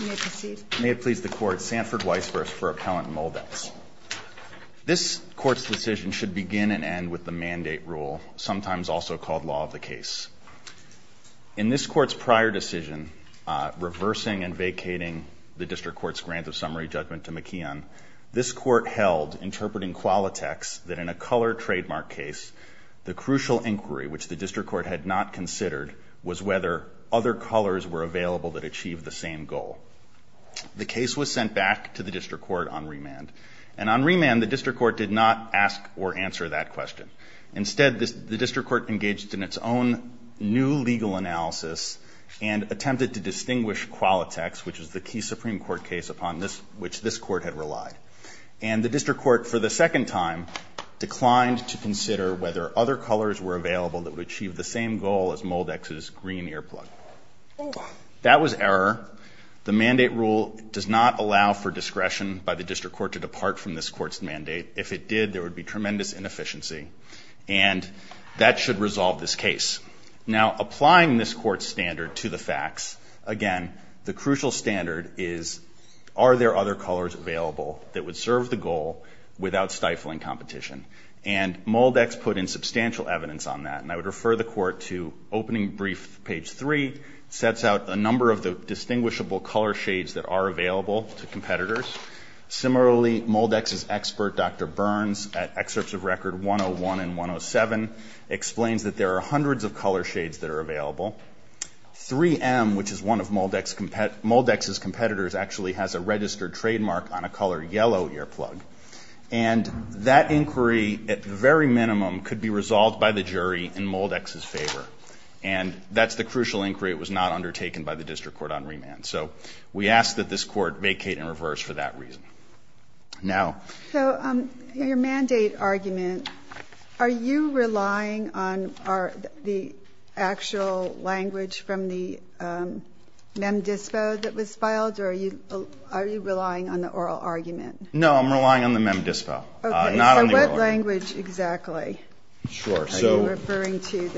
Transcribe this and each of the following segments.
May it please the Court. May it please the Court. Sanford Weisburst for Appellant Moldex. This Court's decision should begin and end with the Mandate Rule, sometimes also called Law of the Case. In this Court's prior decision, reversing and vacating the District Court's Grants of Summary judgment to McKeon, this Court held, interpreting Qualitex, that in a color trademark case, the crucial inquiry which the District Court had not considered was whether other colors were available that achieved the same goal. The case was sent back to the District Court on remand. And on remand, the District Court did not ask or answer that question. Instead, the District Court engaged in its own new legal analysis and attempted to distinguish Qualitex, which is the key Supreme Court case upon which this Court had relied. And the District Court, for the second time, declined to consider whether other colors were available that would achieve the same goal as Moldex's green earplug. That was error. The Mandate Rule does not allow for discretion by the District Court to depart from this Court's mandate. If it did, there would be tremendous inefficiency. And that should resolve this case. Now, applying this Court's standard to the facts, again, the crucial standard is, are there other colors available that would serve the goal without stifling competition? And Moldex put in substantial evidence on that. And I would refer the Court to Opening Brief, page 3, sets out a number of the distinguishable color shades that are available to competitors. Similarly, Moldex's expert, Dr. Burns, at Excerpts of Record 101 and 107, explains that there are hundreds of color shades that are available. 3M, which is one of Moldex's competitors, actually has a registered trademark on a color yellow earplug. And that inquiry, at the very minimum, could be resolved by the jury in Moldex's favor. And that's the crucial inquiry. It was not undertaken by the District Court on remand. So we ask that this Court vacate and reverse for that reason. Now. So your mandate argument, are you relying on the actual language from the Mem Dispo that was filed? Or are you relying on the oral argument? No, I'm relying on the Mem Dispo, not on the oral argument. Okay. So what language exactly are you referring to?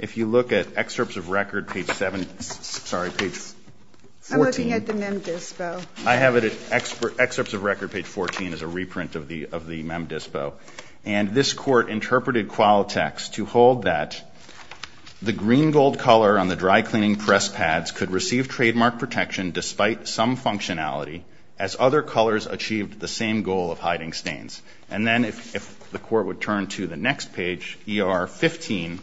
If you look at Excerpts of Record page 7, sorry, page 14. I'm looking at the Mem Dispo. I have it at Excerpts of Record page 14 as a reprint of the Mem Dispo. And this Court interpreted Qualitex to hold that the green-gold color on the dry-cleaning press pads could receive trademark protection despite some functionality as other colors achieved the same goal of hiding stains. And then if the Court would turn to the next page, ER 15,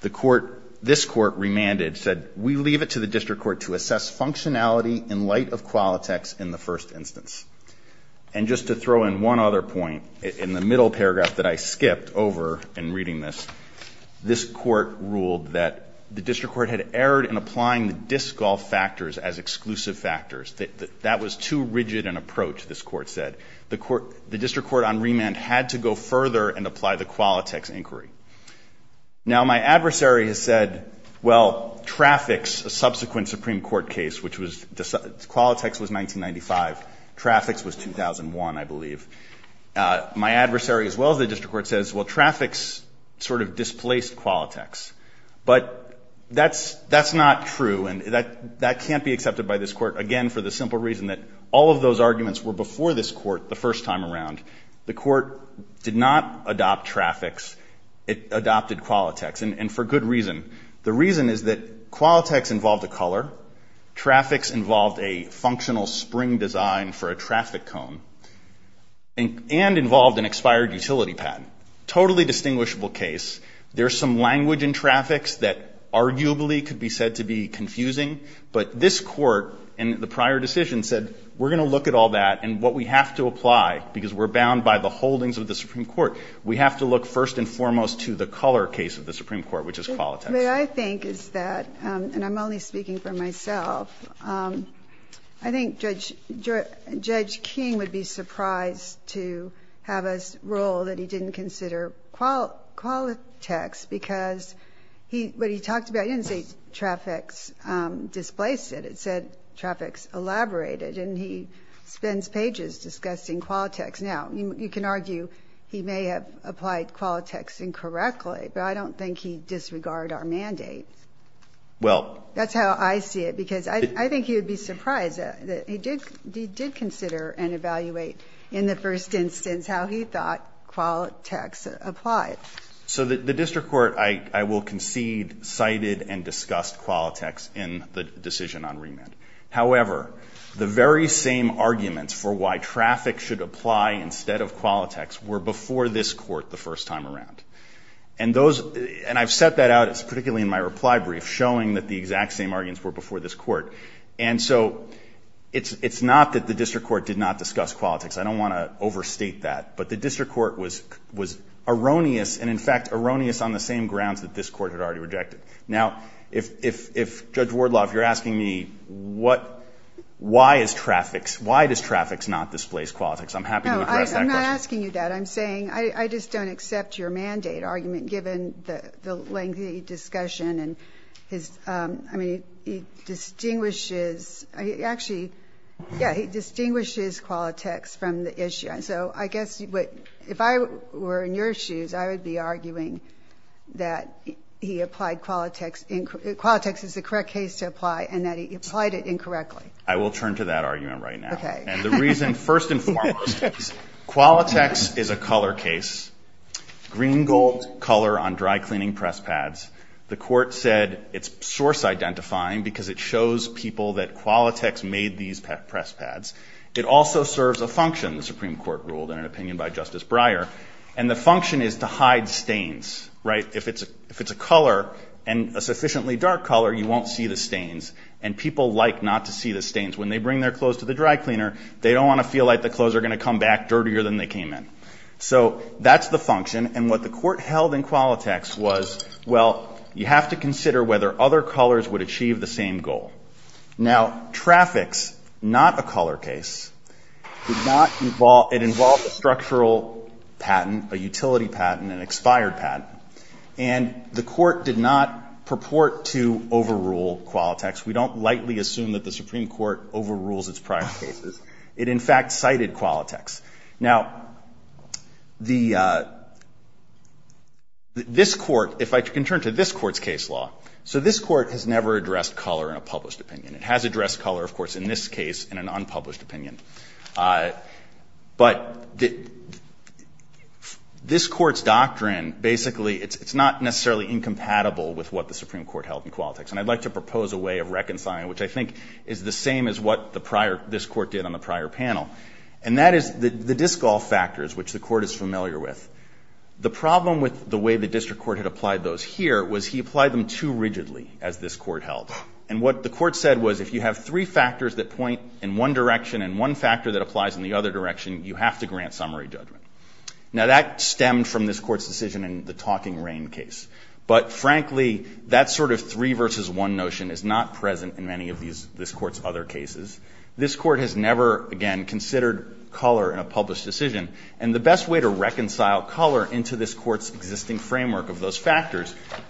the Court, this Court remanded, said, we leave it to the District Court to assess functionality in light of Qualitex in the first instance. And just to throw in one other point, in the middle paragraph that I skipped over in reading this, this Court ruled that the District Court had erred in applying the disc golf factors as exclusive factors. That was too rigid an approach, this Court said. The District Court on remand had to go further and apply the Qualitex inquiry. Now, my adversary has said, well, Traffix, a subsequent Supreme Court case, which was Qualitex was 1995, Traffix was 2001, I believe. My adversary, as well as the District Court, says, well, Traffix sort of displaced Qualitex. But that's not true. And that can't be accepted by this Court, again, for the simple reason that all of those arguments were before this Court the first time around. The Court did not adopt Traffix. It adopted Qualitex, and for good reason. The reason is that Qualitex involved a color, Traffix involved a functional spring design for a traffic cone, and involved an expired utility patent. Totally distinguishable case. There's some language in Traffix that arguably could be said to be confusing, but this Court in the prior decision said, we're going to look at all that, and what we have to apply, because we're bound by the holdings of the Supreme Court, we have to look first and foremost to the color case of the Supreme Court, which is Qualitex. What I think is that, and I'm only speaking for myself, I think Judge King would be surprised that he did consider and evaluate in the first instance how he thought Qualitex applied. So the district court, I will concede, cited and discussed Qualitex in the decision on remand. However, the very same arguments for why traffic should apply instead of Qualitex were before this Court the first time around. And those, and I've set that out, particularly in my reply brief, showing that the exact same arguments were before this Court. And so it's not that the district court did not discuss Qualitex. I don't want to overstate that. But the district court was erroneous, and in fact erroneous on the same grounds that this Court had already rejected. Now, if Judge Wardlaw, if you're asking me what, why is traffic, why does traffic not displace Qualitex, I'm happy to address that question. No, I'm not asking you that. I'm saying, I just don't accept your mandate argument, given the lengthy discussion and his, I mean, he distinguishes, actually, yeah, he distinguishes Qualitex from the issue. So I guess, if I were in your shoes, I would be arguing that he applied Qualitex, Qualitex is the correct case to apply, and that he applied it incorrectly. I will turn to that argument right now. Okay. And the reason, first and foremost, Qualitex is a color case, green gold color on dry-cleaning press pads. The Court said it's source-identifying because it shows people that Qualitex made these press pads. It also serves a function, the Supreme Court ruled in an opinion by Justice Breyer, and the function is to hide stains, right? If it's a color, and a sufficiently dark color, you won't see the stains, and people like not to see the stains. When they bring their clothes to the dry cleaner, they don't want to feel like the clothes are going to come back dirtier than they came in. So that's the function, and what the Court held in Qualitex was, well, you have to consider whether other colors would achieve the same goal. Now, traffics, not a color case, did not involve, it involved a structural patent, a utility patent, an expired patent, and the Court did not purport to overrule Qualitex. We don't lightly assume that the Supreme Court overrules its prior cases. It, in fact, cited Qualitex. Now, the, this Court, if I can turn to this Court's case law. So this Court has never addressed color in a published opinion. It has addressed color, of course, in this case, in an unpublished opinion. But this Court's doctrine, basically, it's not necessarily incompatible with what the Supreme Court held in Qualitex. And I'd like to propose a way of reconciling, which I think is the same as what the prior, this Court did on the prior panel, and that is the discall factors, which the Court is familiar with. The problem with the way the district court had applied those here was he applied them too rigidly, as this Court held. And what the Court said was if you have three factors that point in one direction and one factor that applies in the other direction, you have to grant summary judgment. Now, that stemmed from this Court's decision in the Talking Rain case. But, frankly, that sort of three versus one notion is not present in many of these, this Court's other cases. This Court has never, again, considered color in a published decision. And the best way to reconcile color into this Court's existing framework of those that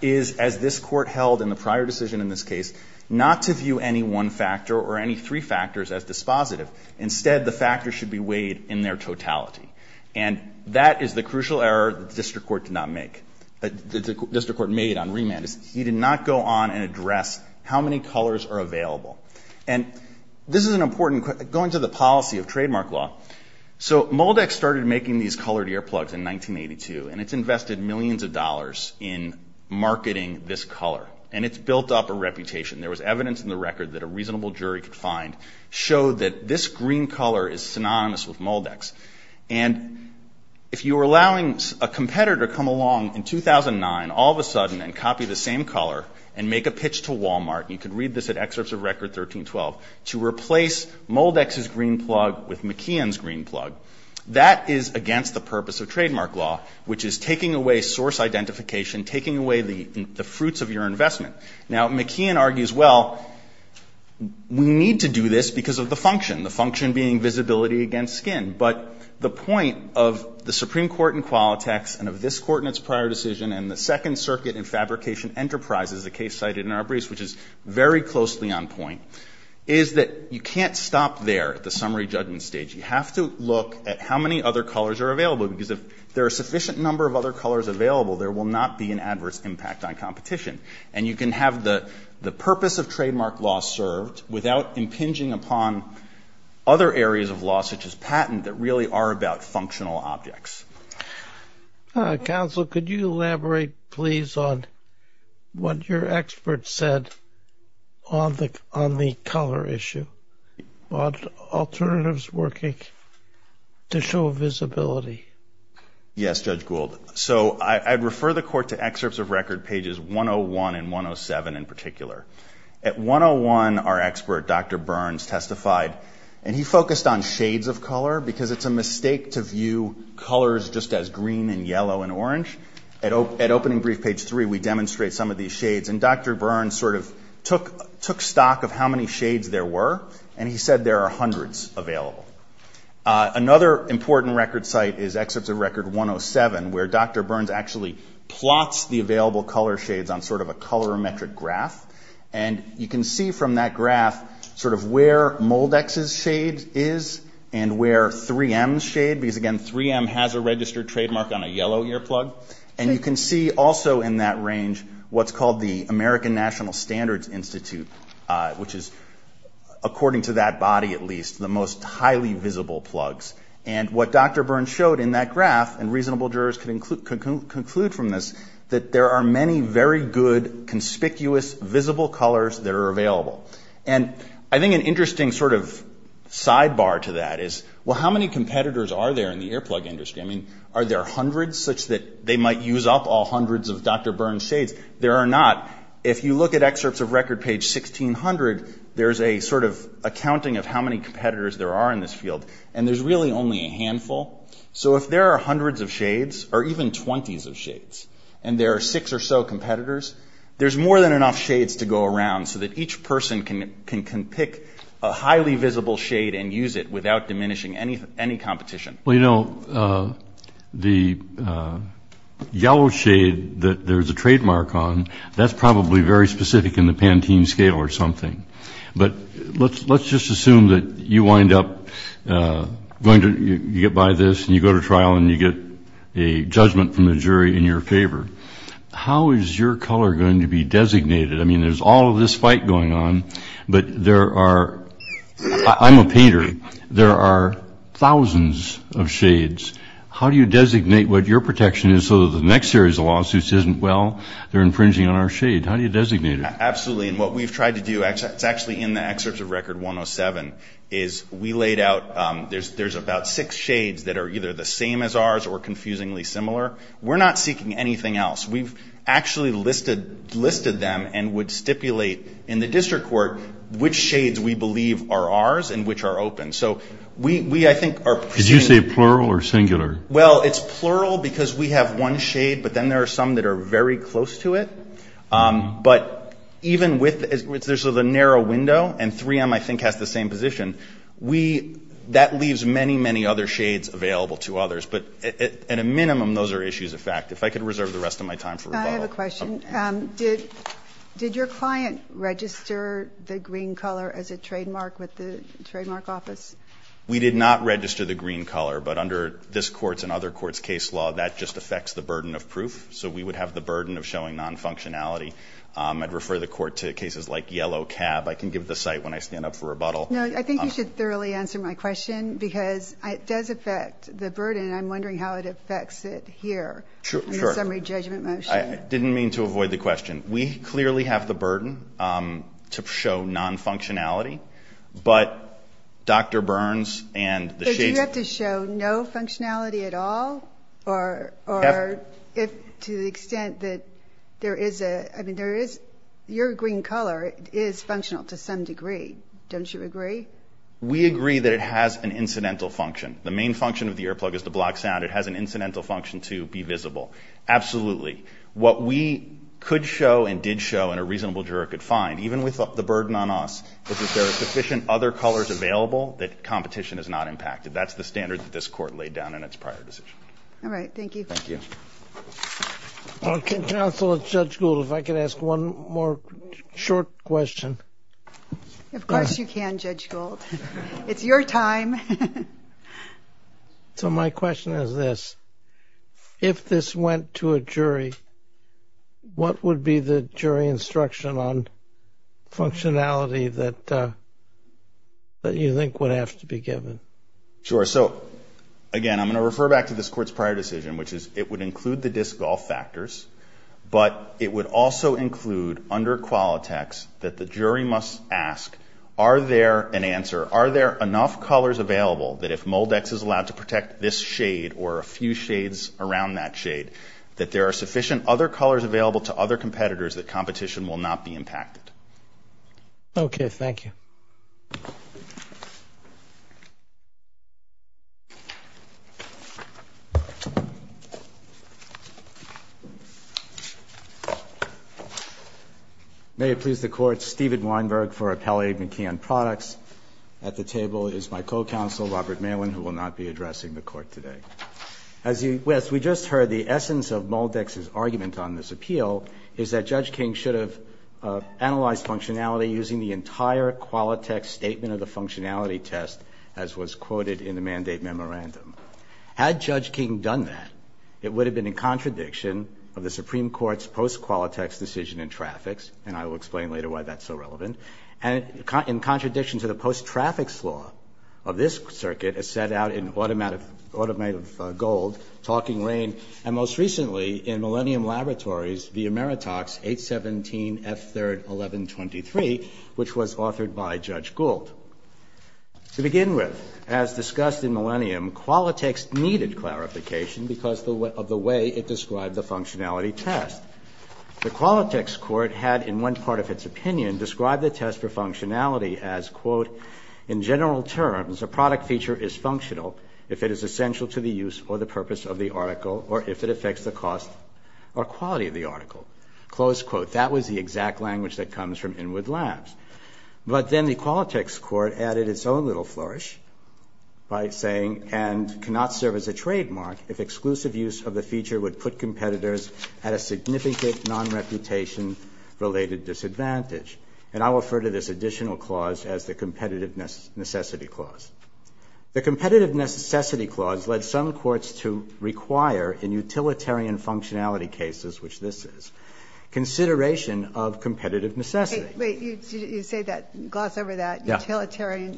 this Court held in the prior decision in this case, not to view any one factor or any three factors as dispositive. Instead, the factors should be weighed in their totality. And that is the crucial error that the district court did not make, that the district court made on remand, is he did not go on and address how many colors are available. And this is an important, going to the policy of trademark law. So Moldex started making these colored earplugs in 1982, and it's invested millions of dollars in marketing this color. And it's built up a reputation. There was evidence in the record that a reasonable jury could find showed that this green color is synonymous with Moldex. And if you were allowing a competitor to come along in 2009 all of a sudden and copy the same color and make a pitch to Walmart, you could read this at Excerpts of Record 1312, to replace Moldex's green plug with McKeon's green plug. That is against the purpose of trademark law, which is taking away source identification, taking away the fruits of your investment. Now, McKeon argues, well, we need to do this because of the function, the function being visibility against skin. But the point of the Supreme Court in Qualitex and of this Court in its prior decision and the Second Circuit in Fabrication Enterprises, the case cited in Arbreece, which is very closely on point, is that you can't stop there at the summary judgment stage. You have to look at how many other colors are available because if there are a sufficient number of other colors available, there will not be an adverse impact on competition. And you can have the purpose of trademark law served without impinging upon other areas of law, such as patent, that really are about functional objects. Counsel, could you elaborate, please, on what your expert said on the color issue, on alternatives working to show visibility? Yes, Judge Gould. So I'd refer the Court to Excerpts of Record pages 101 and 107 in particular. At 101, our expert, Dr. Burns, testified, and he focused on shades of color because it's a mistake to view colors just as green and yellow and orange. At Opening Brief, page 3, we demonstrate some of these shades, and Dr. Burns sort of took stock of how many shades there were, and he said there are hundreds available. Another important record site is Excerpts of Record 107, where Dr. Burns actually plots the available color shades on sort of a colorimetric graph. And you can see from that graph sort of where Moldex's shade is and where 3M's shade, because, again, 3M has a registered trademark on a yellow earplug. And you can see also in that range what's called the American National Standards Institute, which is, according to that body at least, the most highly visible plugs. And what Dr. Burns showed in that graph, and reasonable jurors can conclude from this, that there are many very good, conspicuous, visible colors that are available. And I think an interesting sort of sidebar to that is, well, how many competitors are there in the earplug industry? I mean, are there hundreds such that they might use up all hundreds of Dr. Burns' shades? There are not. If you look at Excerpts of Record, page 1600, there's a sort of accounting of how many competitors there are in this field, and there's really only a handful. So if there are hundreds of shades, or even 20s of shades, and there are six or so competitors, there's more than enough shades to go around so that each person can pick a highly visible shade and use it without diminishing any competition. Well, you know, the yellow shade that there's a trademark on, that's probably very specific in the Pantene scale or something. But let's just assume that you wind up going to, you get by this, and you go to trial, and you get a judgment from the jury in your favor. How is your color going to be designated? I mean, there's all of this fight going on, but there are, I'm a painter, there are thousands of shades. How do you designate what your protection is so that the next series of lawsuits isn't, well, they're infringing on our shade? How do you designate it? Absolutely. And what we've tried to do, it's actually in the excerpts of Record 107, is we laid out, there's about six shades that are either the same as ours or confusingly similar. We're not seeking anything else. We've actually listed them and would stipulate in the district court which shades we believe are ours and which are open. Could you say plural or singular? Well, it's plural because we have one shade, but then there are some that are very close to it. But even with, there's a narrow window, and 3M, I think, has the same position, that leaves many, many other shades available to others. But at a minimum, those are issues of fact. If I could reserve the rest of my time for rebuttal. I have a question. Did your client register the green color as a trademark with the Trademark Office? We did not register the green color, but under this Court's and other Courts' case law, that just affects the burden of proof, so we would have the burden of showing non-functionality. I'd refer the Court to cases like Yellow Cab. I can give the site when I stand up for rebuttal. No, I think you should thoroughly answer my question because it does affect the burden, and I'm wondering how it affects it here in the summary judgment motion. I didn't mean to avoid the question. We clearly have the burden to show non-functionality, but Dr. Burns and the shades... But do you have to show no functionality at all, or to the extent that there is a, I mean, your green color is functional to some degree. Don't you agree? We agree that it has an incidental function. The main function of the earplug is to block sound. It has an incidental function to be visible. Absolutely. What we could show and did show, and a reasonable juror could find, even with the burden on us, is that there are sufficient other colors available that competition is not impacted. That's the standard that this Court laid down in its prior decision. All right. Thank you. Counsel, Judge Gould, if I could ask one more short question. Of course you can, Judge Gould. It's your time. So my question is this. If this went to a jury, what would be the jury instruction on functionality that you think would have to be given? Sure. So, again, I'm going to refer back to this Court's prior decision, which is it would include the disc golf factors, but it would also include under Qualitex that the jury must ask, are there an answer, are there enough colors available that if Moldex is allowed to protect this shade or a few shades around that shade, that there are sufficient other colors available to other competitors that competition will not be impacted? Okay. Thank you. May it please the Court, Stephen Weinberg for Appellate McKeon Products. At the table is my co-counsel, Robert Malin, who will not be addressing the Court today. As we just heard, the essence of Moldex's argument on this appeal is that Judge King should have analyzed functionality using the entire Qualitex statement of the functionality test as was quoted in the mandate memorandum. Had Judge King done that, it would have been in contradiction of the Supreme Court's post-Qualitex decision in traffics, and I will explain later why that's so relevant, and in contradiction to the post-traffics law of this circuit as set out in Automative Gold, Talking Rain, and most recently in Millennium Laboratories via Meritox 817F3-1123, which was authored by Judge Gould. To begin with, as discussed in Millennium, Qualitex needed clarification because of the way it described the functionality test. The Qualitex court had, in one part of its opinion, described the test for functionality as, quote, in general terms, a product feature is functional if it is essential to the use or the purpose of the article, or if it affects the cost or quality of the article. Close quote. That was the exact language that comes from Inwood Labs. But then the Qualitex court added its own little flourish by saying, and cannot serve as a trademark if exclusive use of the feature would put competitors at a significant non-reputation related disadvantage. And I will refer to this additional clause as the Competitiveness Necessity Clause. The Competitiveness Necessity Clause led some courts to require, in utilitarian functionality cases, which this is, consideration of competitive necessity. Wait, you say that, gloss over that, utilitarian,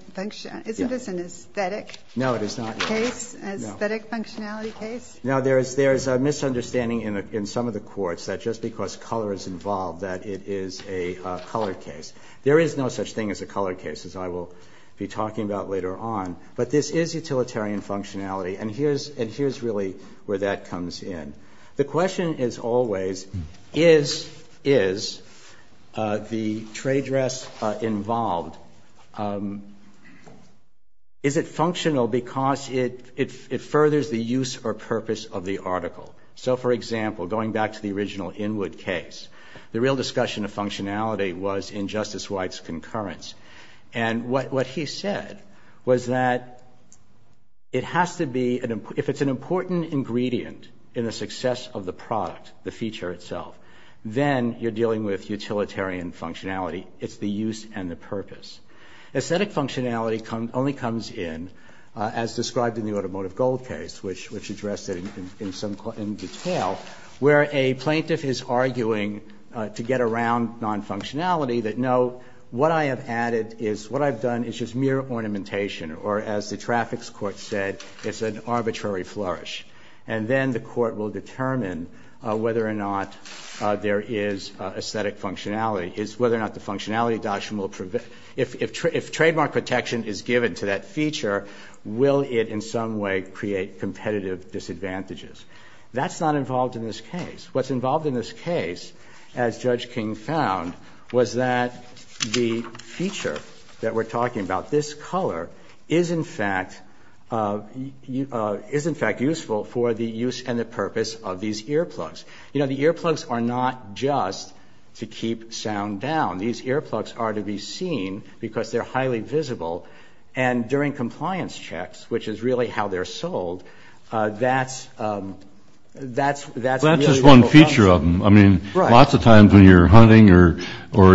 isn't this an aesthetic case? No, it is not. An aesthetic functionality case? Now, there is a misunderstanding in some of the courts that just because color is involved that it is a color case. There is no such thing as a color case, as I will be talking about later on. But this is utilitarian functionality, and here's really where that comes in. The question is always, is the trade dress involved, is it functional because it furthers the use or purpose of the article? So, for example, going back to the original Inwood case, the real discussion of functionality was in Justice White's concurrence. And what he said was that it has to be, if it's an important ingredient in the success of the product, the feature itself, then you're dealing with utilitarian functionality. It's the use and the purpose. Aesthetic functionality only comes in, as described in the Automotive Gold case, which addressed it in detail, where a plaintiff is arguing to get around non-functionality, that no, what I have added is, what I've done is just mere ornamentation, or as the traffics court said, it's an arbitrary flourish. And then the court will determine whether or not there is aesthetic functionality, is whether or not the functionality, if trademark protection is given to that feature, will it in some way create competitive disadvantages? That's not involved in this case. What's involved in this case, as Judge King found, was that the feature that we're talking about, this color, is in fact useful for the use and the purpose of these earplugs. You know, the earplugs are not just to keep sound down. These earplugs are to be seen because they're highly visible. And during compliance checks, which is really how they're sold, that's a really useful function. Well, that's just one feature of them. I mean, lots of times when you're hunting or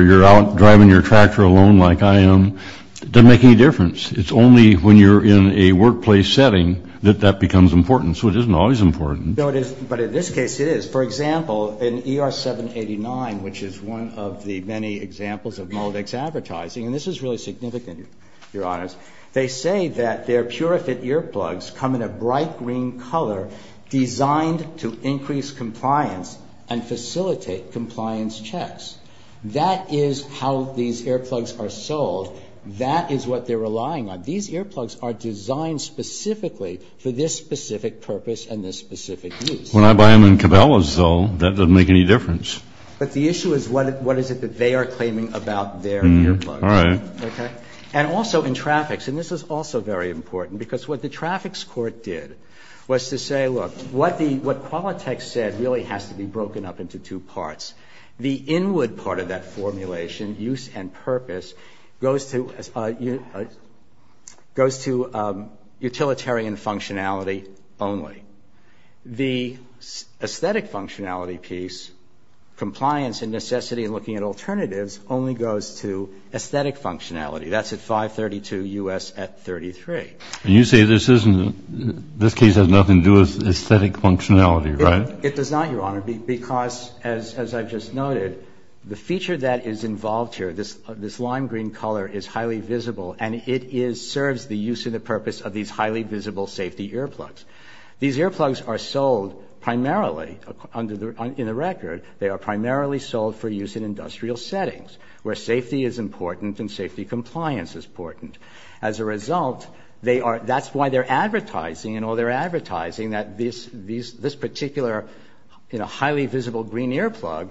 you're out driving your tractor alone like I am, it doesn't make any difference. It's only when you're in a workplace setting that that becomes important. So it isn't always important. No, it isn't. But in this case, it is. For example, in ER 789, which is one of the many examples of Moldex advertising, and this is really significant, Your Honors, they say that their PureFit earplugs come in a bright green color designed to increase compliance and facilitate compliance checks. That is how these earplugs are sold. That is what they're relying on. These earplugs are designed specifically for this specific purpose and this specific use. When I buy them in Cabela's, though, that doesn't make any difference. But the issue is what is it that they are claiming about their earplugs. And also in traffics, and this is also very important, because what the traffics court did was to say, look, what Qualitech said really has to be broken up into two parts. The inward part of that formulation, use and purpose, goes to utilitarian functionality only. The aesthetic functionality piece, compliance and necessity and looking at alternatives, only goes to aesthetic functionality. That's at 532 U.S. at 33. And you say this case has nothing to do with aesthetic functionality, right? It does not, Your Honor, because, as I've just noted, the feature that is involved here, this lime green color is highly visible, and it serves the use and the purpose of these highly visible safety earplugs. These earplugs are sold primarily, in the record, they are primarily sold for use in industrial settings, where safety is important and safety compliance is important. As a result, they are, that's why they're advertising, you know, they're advertising that this particular, you know, highly visible green earplug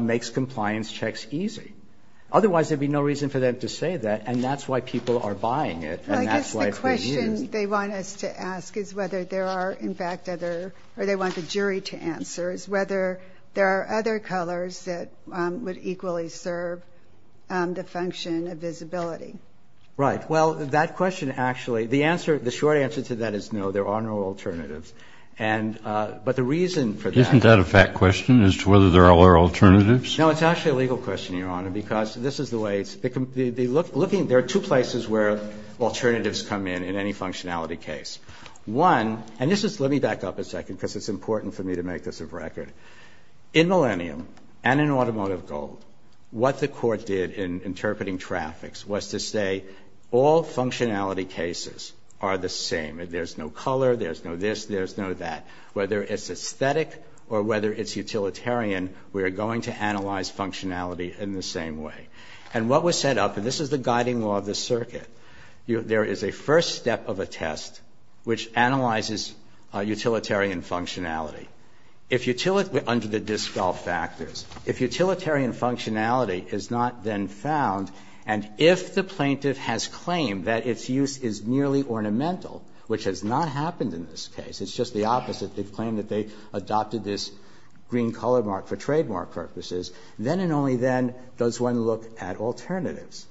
makes compliance checks easy. Otherwise, there'd be no reason for them to say that, and that's why people are buying it, and that's why it's being used. Well, I guess the question they want us to ask is whether there are, in fact, other, or they want the jury to answer, is whether there are other colors that would equally serve the function of visibility. Right. Well, that question actually, the answer, the short answer to that is no, there are no alternatives. And, but the reason for that. Isn't that a fact question as to whether there are alternatives? No, it's actually a legal question, Your Honor, because this is the way it's, looking, there are two places where alternatives come in in any functionality case. One, and this is, let me back up a second, because it's important for me to make this a record. In Millennium and in Automotive Gold, what the court did in interpreting traffics was to say all functionality cases are the same. There's no color, there's no this, there's no that. Whether it's aesthetic or whether it's utilitarian, we are going to analyze functionality in the same way. And what was set up, and this is the guiding law of the circuit, there is a first step of a test which analyzes utilitarian functionality. If utilitarian, under the Diskell factors, if utilitarian functionality is not then found, and if the plaintiff has claimed that its use is nearly ornamental, which has not happened in this case, it's just the opposite. They've claimed that they adopted this green color mark for trademark purposes. Then and only then does one look at alternatives.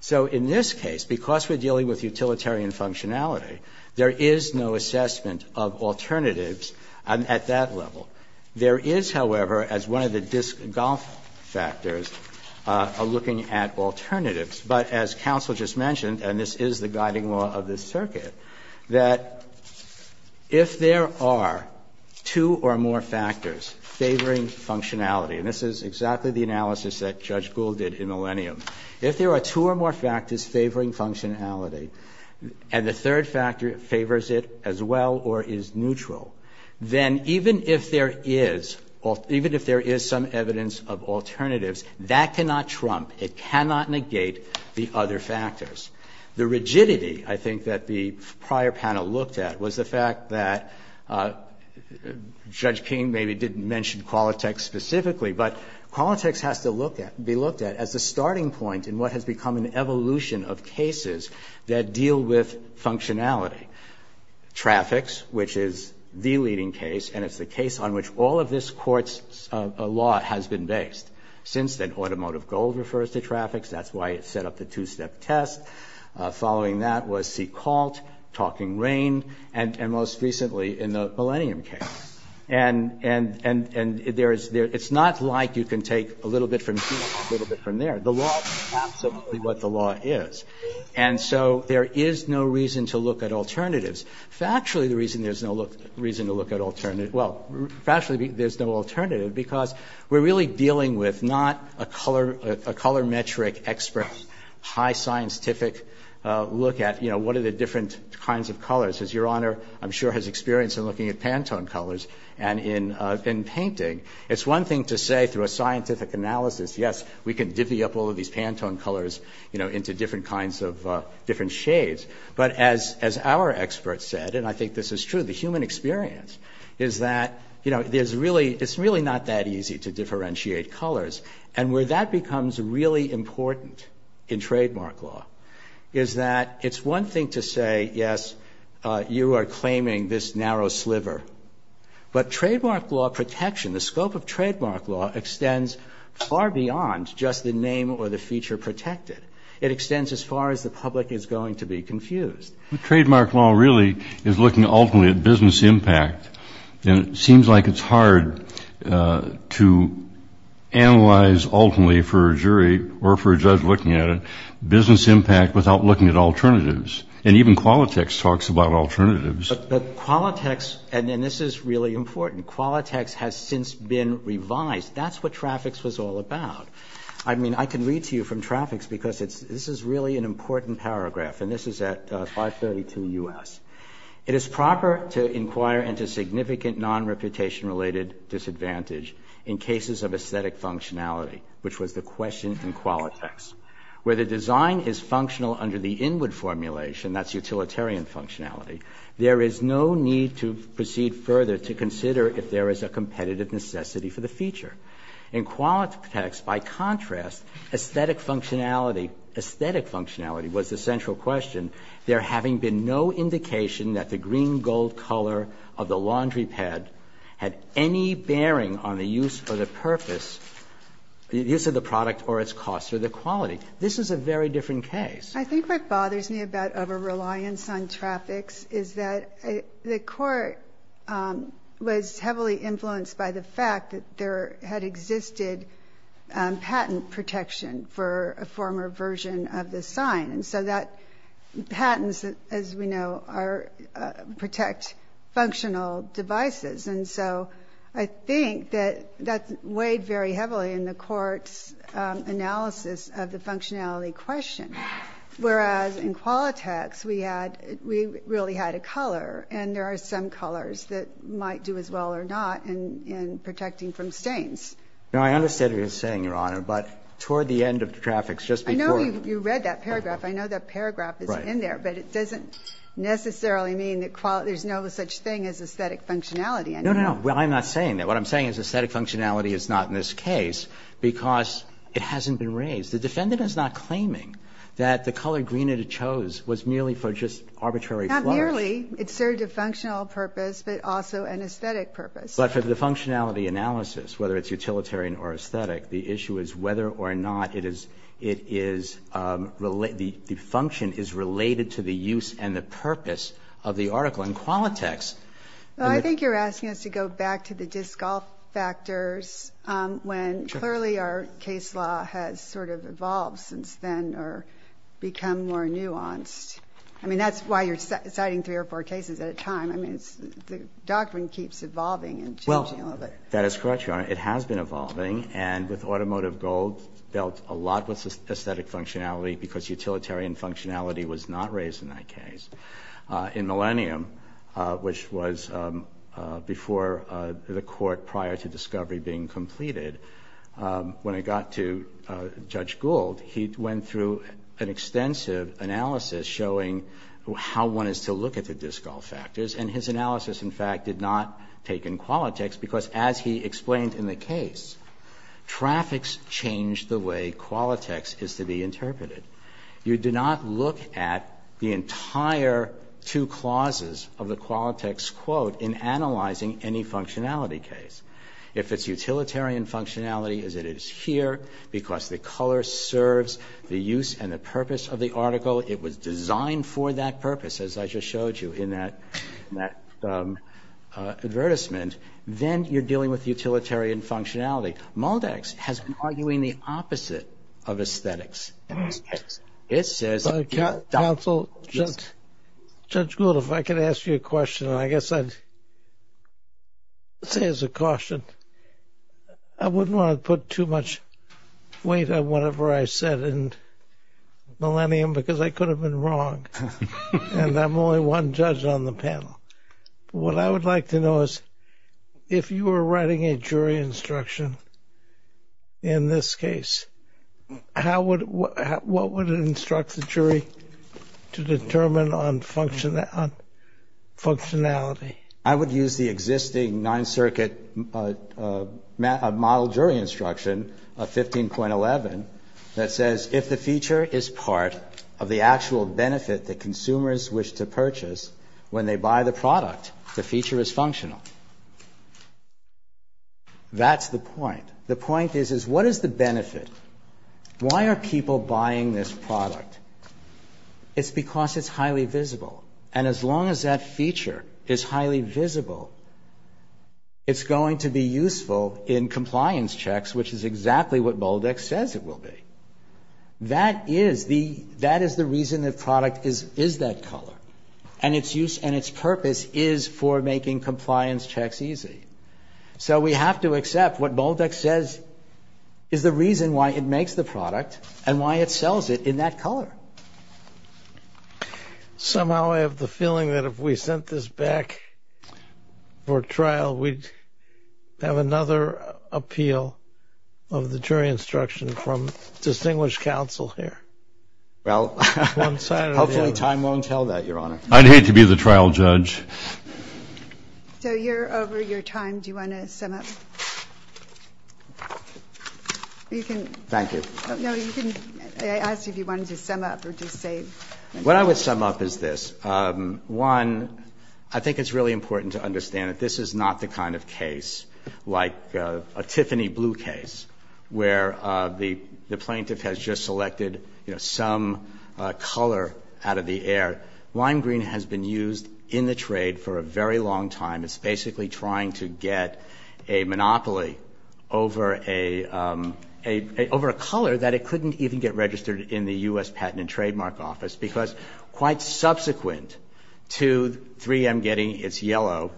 So in this case, because we're dealing with utilitarian functionality, there is no assessment of alternatives at that level. There is, however, as one of the Diskell factors, a looking at alternatives. But as counsel just mentioned, and this is the guiding law of this circuit, that if there are two or more factors favoring functionality, and this is exactly the analysis that Judge Gould did in Millennium, if there are two or more factors favoring functionality, and the third factor favors it as well or is neutral, then even if there is some evidence of alternatives, that cannot trump, it cannot negate the other factors. The rigidity, I think, that the prior panel looked at was the fact that Judge King maybe didn't mention Qualitex specifically, but Qualitex has to be looked at as the starting point in what has become an evolution of cases that deal with functionality. Traffics, which is the leading case, and it's the case on which all of this court's law has been based. Since then, Automotive Gold refers to traffics. That's why it set up the two-step test. Following that was C. Colt, Talking Rain, and most recently in the Millennium case. And it's not like you can take a little bit from here and a little bit from there. The law is absolutely what the law is. And so there is no reason to look at alternatives. Factually, the reason there's no reason to look at alternatives, well, factually, there's no alternative because we're really dealing with not a color metric expert high scientific look at, you know, what are the different kinds of colors. Your Honor, I'm sure, has experience in looking at Pantone colors and in painting. It's one thing to say through a scientific analysis, yes, we can divvy up all of these Pantone colors, you know, into different kinds of different shades. But as our experts said, and I think this is true, the human experience is that, you know, it's really not that easy to differentiate colors. And where that becomes really important in trademark law is that it's one thing to say, yes, you are claiming this narrow sliver. But trademark law protection, the scope of trademark law, extends far beyond just the name or the feature protected. It extends as far as the public is going to be confused. The trademark law really is looking ultimately at business impact. And it seems like it's hard to analyze ultimately for a jury or for a judge looking at it business impact without looking at alternatives. And even Qualitex talks about alternatives. But Qualitex, and this is really important, Qualitex has since been revised. That's what traffics was all about. I mean, I can read to you from traffics because this is really an important paragraph. And this is at 532 U.S. It is proper to inquire into significant non-reputation related disadvantage in cases of aesthetic functionality, which was the question in Qualitex. Where the design is functional under the inward formulation, that's utilitarian functionality, there is no need to proceed further to consider if there is a competitive necessity for the feature. In Qualitex, by contrast, aesthetic functionality, aesthetic functionality was the central question. There having been no indication that the green gold color of the laundry pad had any bearing on the use or the purpose, the use of the product or its cost or the quality. This is a very different case. I think what bothers me about over-reliance on traffics is that the court was heavily influenced by the fact that there had existed patent protection for a former version of the sign. And so that patents, as we know, protect functional devices. And so I think that that weighed very heavily in the court's analysis of the functionality question. Whereas in Qualitex, we had, we really had a color, and there are some colors that might do as well or not in protecting from stains. Now, I understand what you're saying, Your Honor, but toward the end of the traffics, just before You read that paragraph. I know that paragraph is in there, but it doesn't necessarily mean that there's no such thing as aesthetic functionality anymore. No, no, no. I'm not saying that. What I'm saying is aesthetic functionality is not in this case because it hasn't been raised. The defendant is not claiming that the color green that it chose was merely for just arbitrary Not merely. It served a functional purpose, but also an aesthetic purpose. But for the functionality analysis, whether it's utilitarian or aesthetic, the issue is whether or not it is, it is related, the function is related to the use and the purpose of the article. In Qualitex. Well, I think you're asking us to go back to the disc golf factors when clearly our case law has sort of evolved since then or become more nuanced. I mean, that's why you're citing three or four cases at a time. I mean, the doctrine keeps evolving and changing a little bit. Well, that is correct, Your Honor. It has been evolving and with automotive gold dealt a lot with aesthetic functionality because utilitarian functionality was not raised in that case. In Millennium, which was before the court prior to discovery being completed, when it got to Judge Gould, he went through an extensive analysis showing how one is to look at the disc golf factors. And his analysis, in fact, did not take in Qualitex because, as he explained in the case, traffics change the way Qualitex is to be interpreted. You do not look at the entire two clauses of the Qualitex quote in analyzing any functionality case. If it's utilitarian functionality, it is here because the color serves the use and the purpose of the article. So it was designed for that purpose, as I just showed you in that advertisement. Then you're dealing with utilitarian functionality. Maldex has been arguing the opposite of aesthetics. It says- Counsel, Judge Gould, if I could ask you a question, I guess I'd say as a caution, I wouldn't want to put too much weight on whatever I said in Millennium because I could have been wrong, and I'm only one judge on the panel. What I would like to know is if you were writing a jury instruction in this case, what would it instruct the jury to determine on functionality? I would use the existing Ninth Circuit model jury instruction of 15.11 that says if the feature is part of the actual benefit that consumers wish to purchase when they buy the product, the feature is functional. That's the point. The point is, is what is the benefit? Why are people buying this product? It's because it's highly visible. And as long as that feature is highly visible, it's going to be useful in compliance checks, which is exactly what Maldex says it will be. That is the reason the product is that color, and its purpose is for making compliance checks easy. So we have to accept what Maldex says is the reason why it makes the product and why it sells it in that color. Somehow I have the feeling that if we sent this back for trial, we'd have another appeal of the jury instruction from distinguished counsel here. Well, hopefully time won't tell that, Your Honor. I'd hate to be the trial judge. So you're over your time. Do you want to sum up? Thank you. I asked if you wanted to sum up or just say. What I would sum up is this. One, I think it's really important to understand that this is not the kind of case like a Tiffany blue case, where the plaintiff has just selected some color out of the air. Lime green has been used in the trade for a very long time. It's basically trying to get a monopoly over a color that it couldn't even get registered in the U.S. Patent and Trademark Office, because quite subsequent to 3M getting its yellow,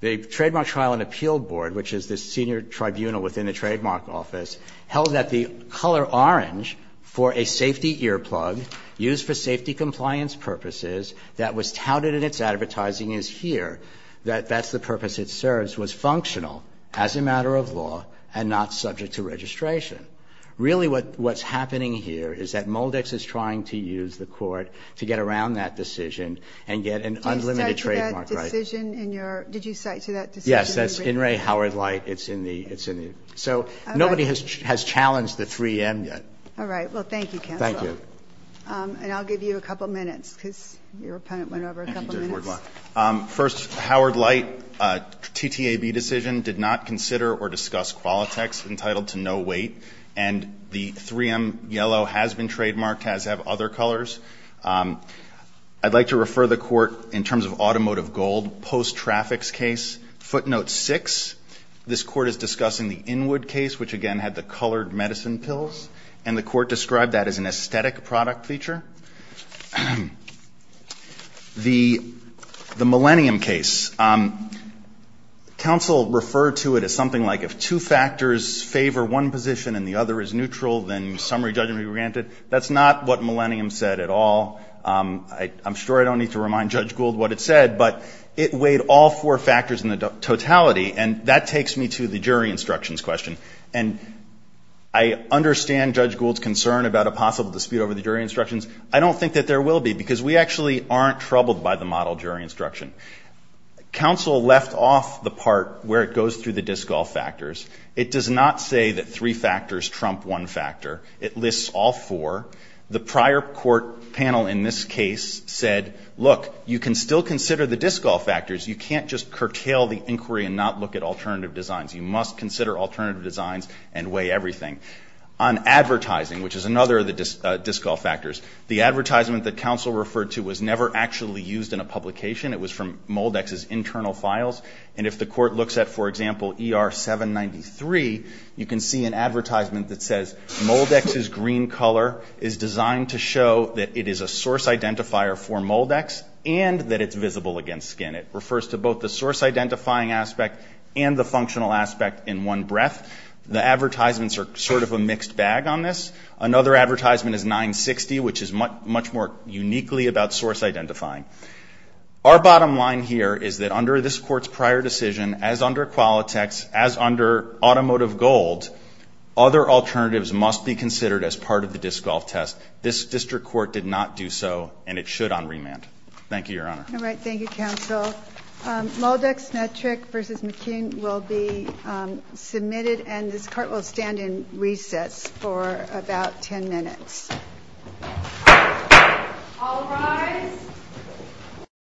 the Trademark Trial and Appeal Board, which is the senior tribunal within the Trademark Office, held that the color orange for a safety earplug used for safety compliance purposes that was touted in its advertising is here, that that's the purpose it serves, was functional as a matter of law and not subject to registration. Really what's happening here is that Moldex is trying to use the court to get around that decision and get an unlimited trademark right. Did you cite to that decision? Yes. That's In Re Howard Light. It's in the. So nobody has challenged the 3M yet. All right. Well, thank you, Counselor. Thank you. And I'll give you a couple minutes, because your opponent went over a couple minutes. First, Howard Light, TTAB decision, did not consider or discuss Qualitex entitled to no weight. And the 3M yellow has been trademarked, has other colors. I'd like to refer the Court, in terms of automotive gold, post-traffics case, footnote 6. This Court is discussing the Inwood case, which again had the colored medicine pills. And the Court described that as an aesthetic product feature. The Millennium case. Counsel referred to it as something like if two factors favor one position and the other is neutral, then summary judgment be granted. That's not what Millennium said at all. I'm sure I don't need to remind Judge Gould what it said, but it weighed all four factors in the totality. And that takes me to the jury instructions question. And I understand Judge Gould's concern about a possible dispute over the jury instructions. I don't think that there will be, because we actually aren't troubled by the model jury instruction. Counsel left off the part where it goes through the disqual factors. It does not say that three factors trump one factor. It lists all four. The prior court panel in this case said, look, you can still consider the disqual factors. You can't just curtail the inquiry and not look at alternative designs. You must consider alternative designs and weigh everything. On advertising, which is another of the disqual factors, the advertisement that counsel referred to was never actually used in a publication. It was from Moldex's internal files. And if the Court looks at, for example, ER-793, you can see an advertisement that says, Moldex's green color is designed to show that it is a source identifier for Moldex and that it's visible against skin. It refers to both the source identifying aspect and the functional aspect in one breath. The advertisements are sort of a mixed bag on this. Another advertisement is 960, which is much more uniquely about source identifying. Our bottom line here is that under this Court's prior decision, as under Qualitex, as under Automotive Gold, other alternatives must be considered as part of the disqual test. This district court did not do so, and it should on remand. Thank you, Your Honor. All right. Thank you, counsel. Moldex-Metrick v. McKeon will be submitted, and this Court will stand in recess for about 10 minutes. All rise.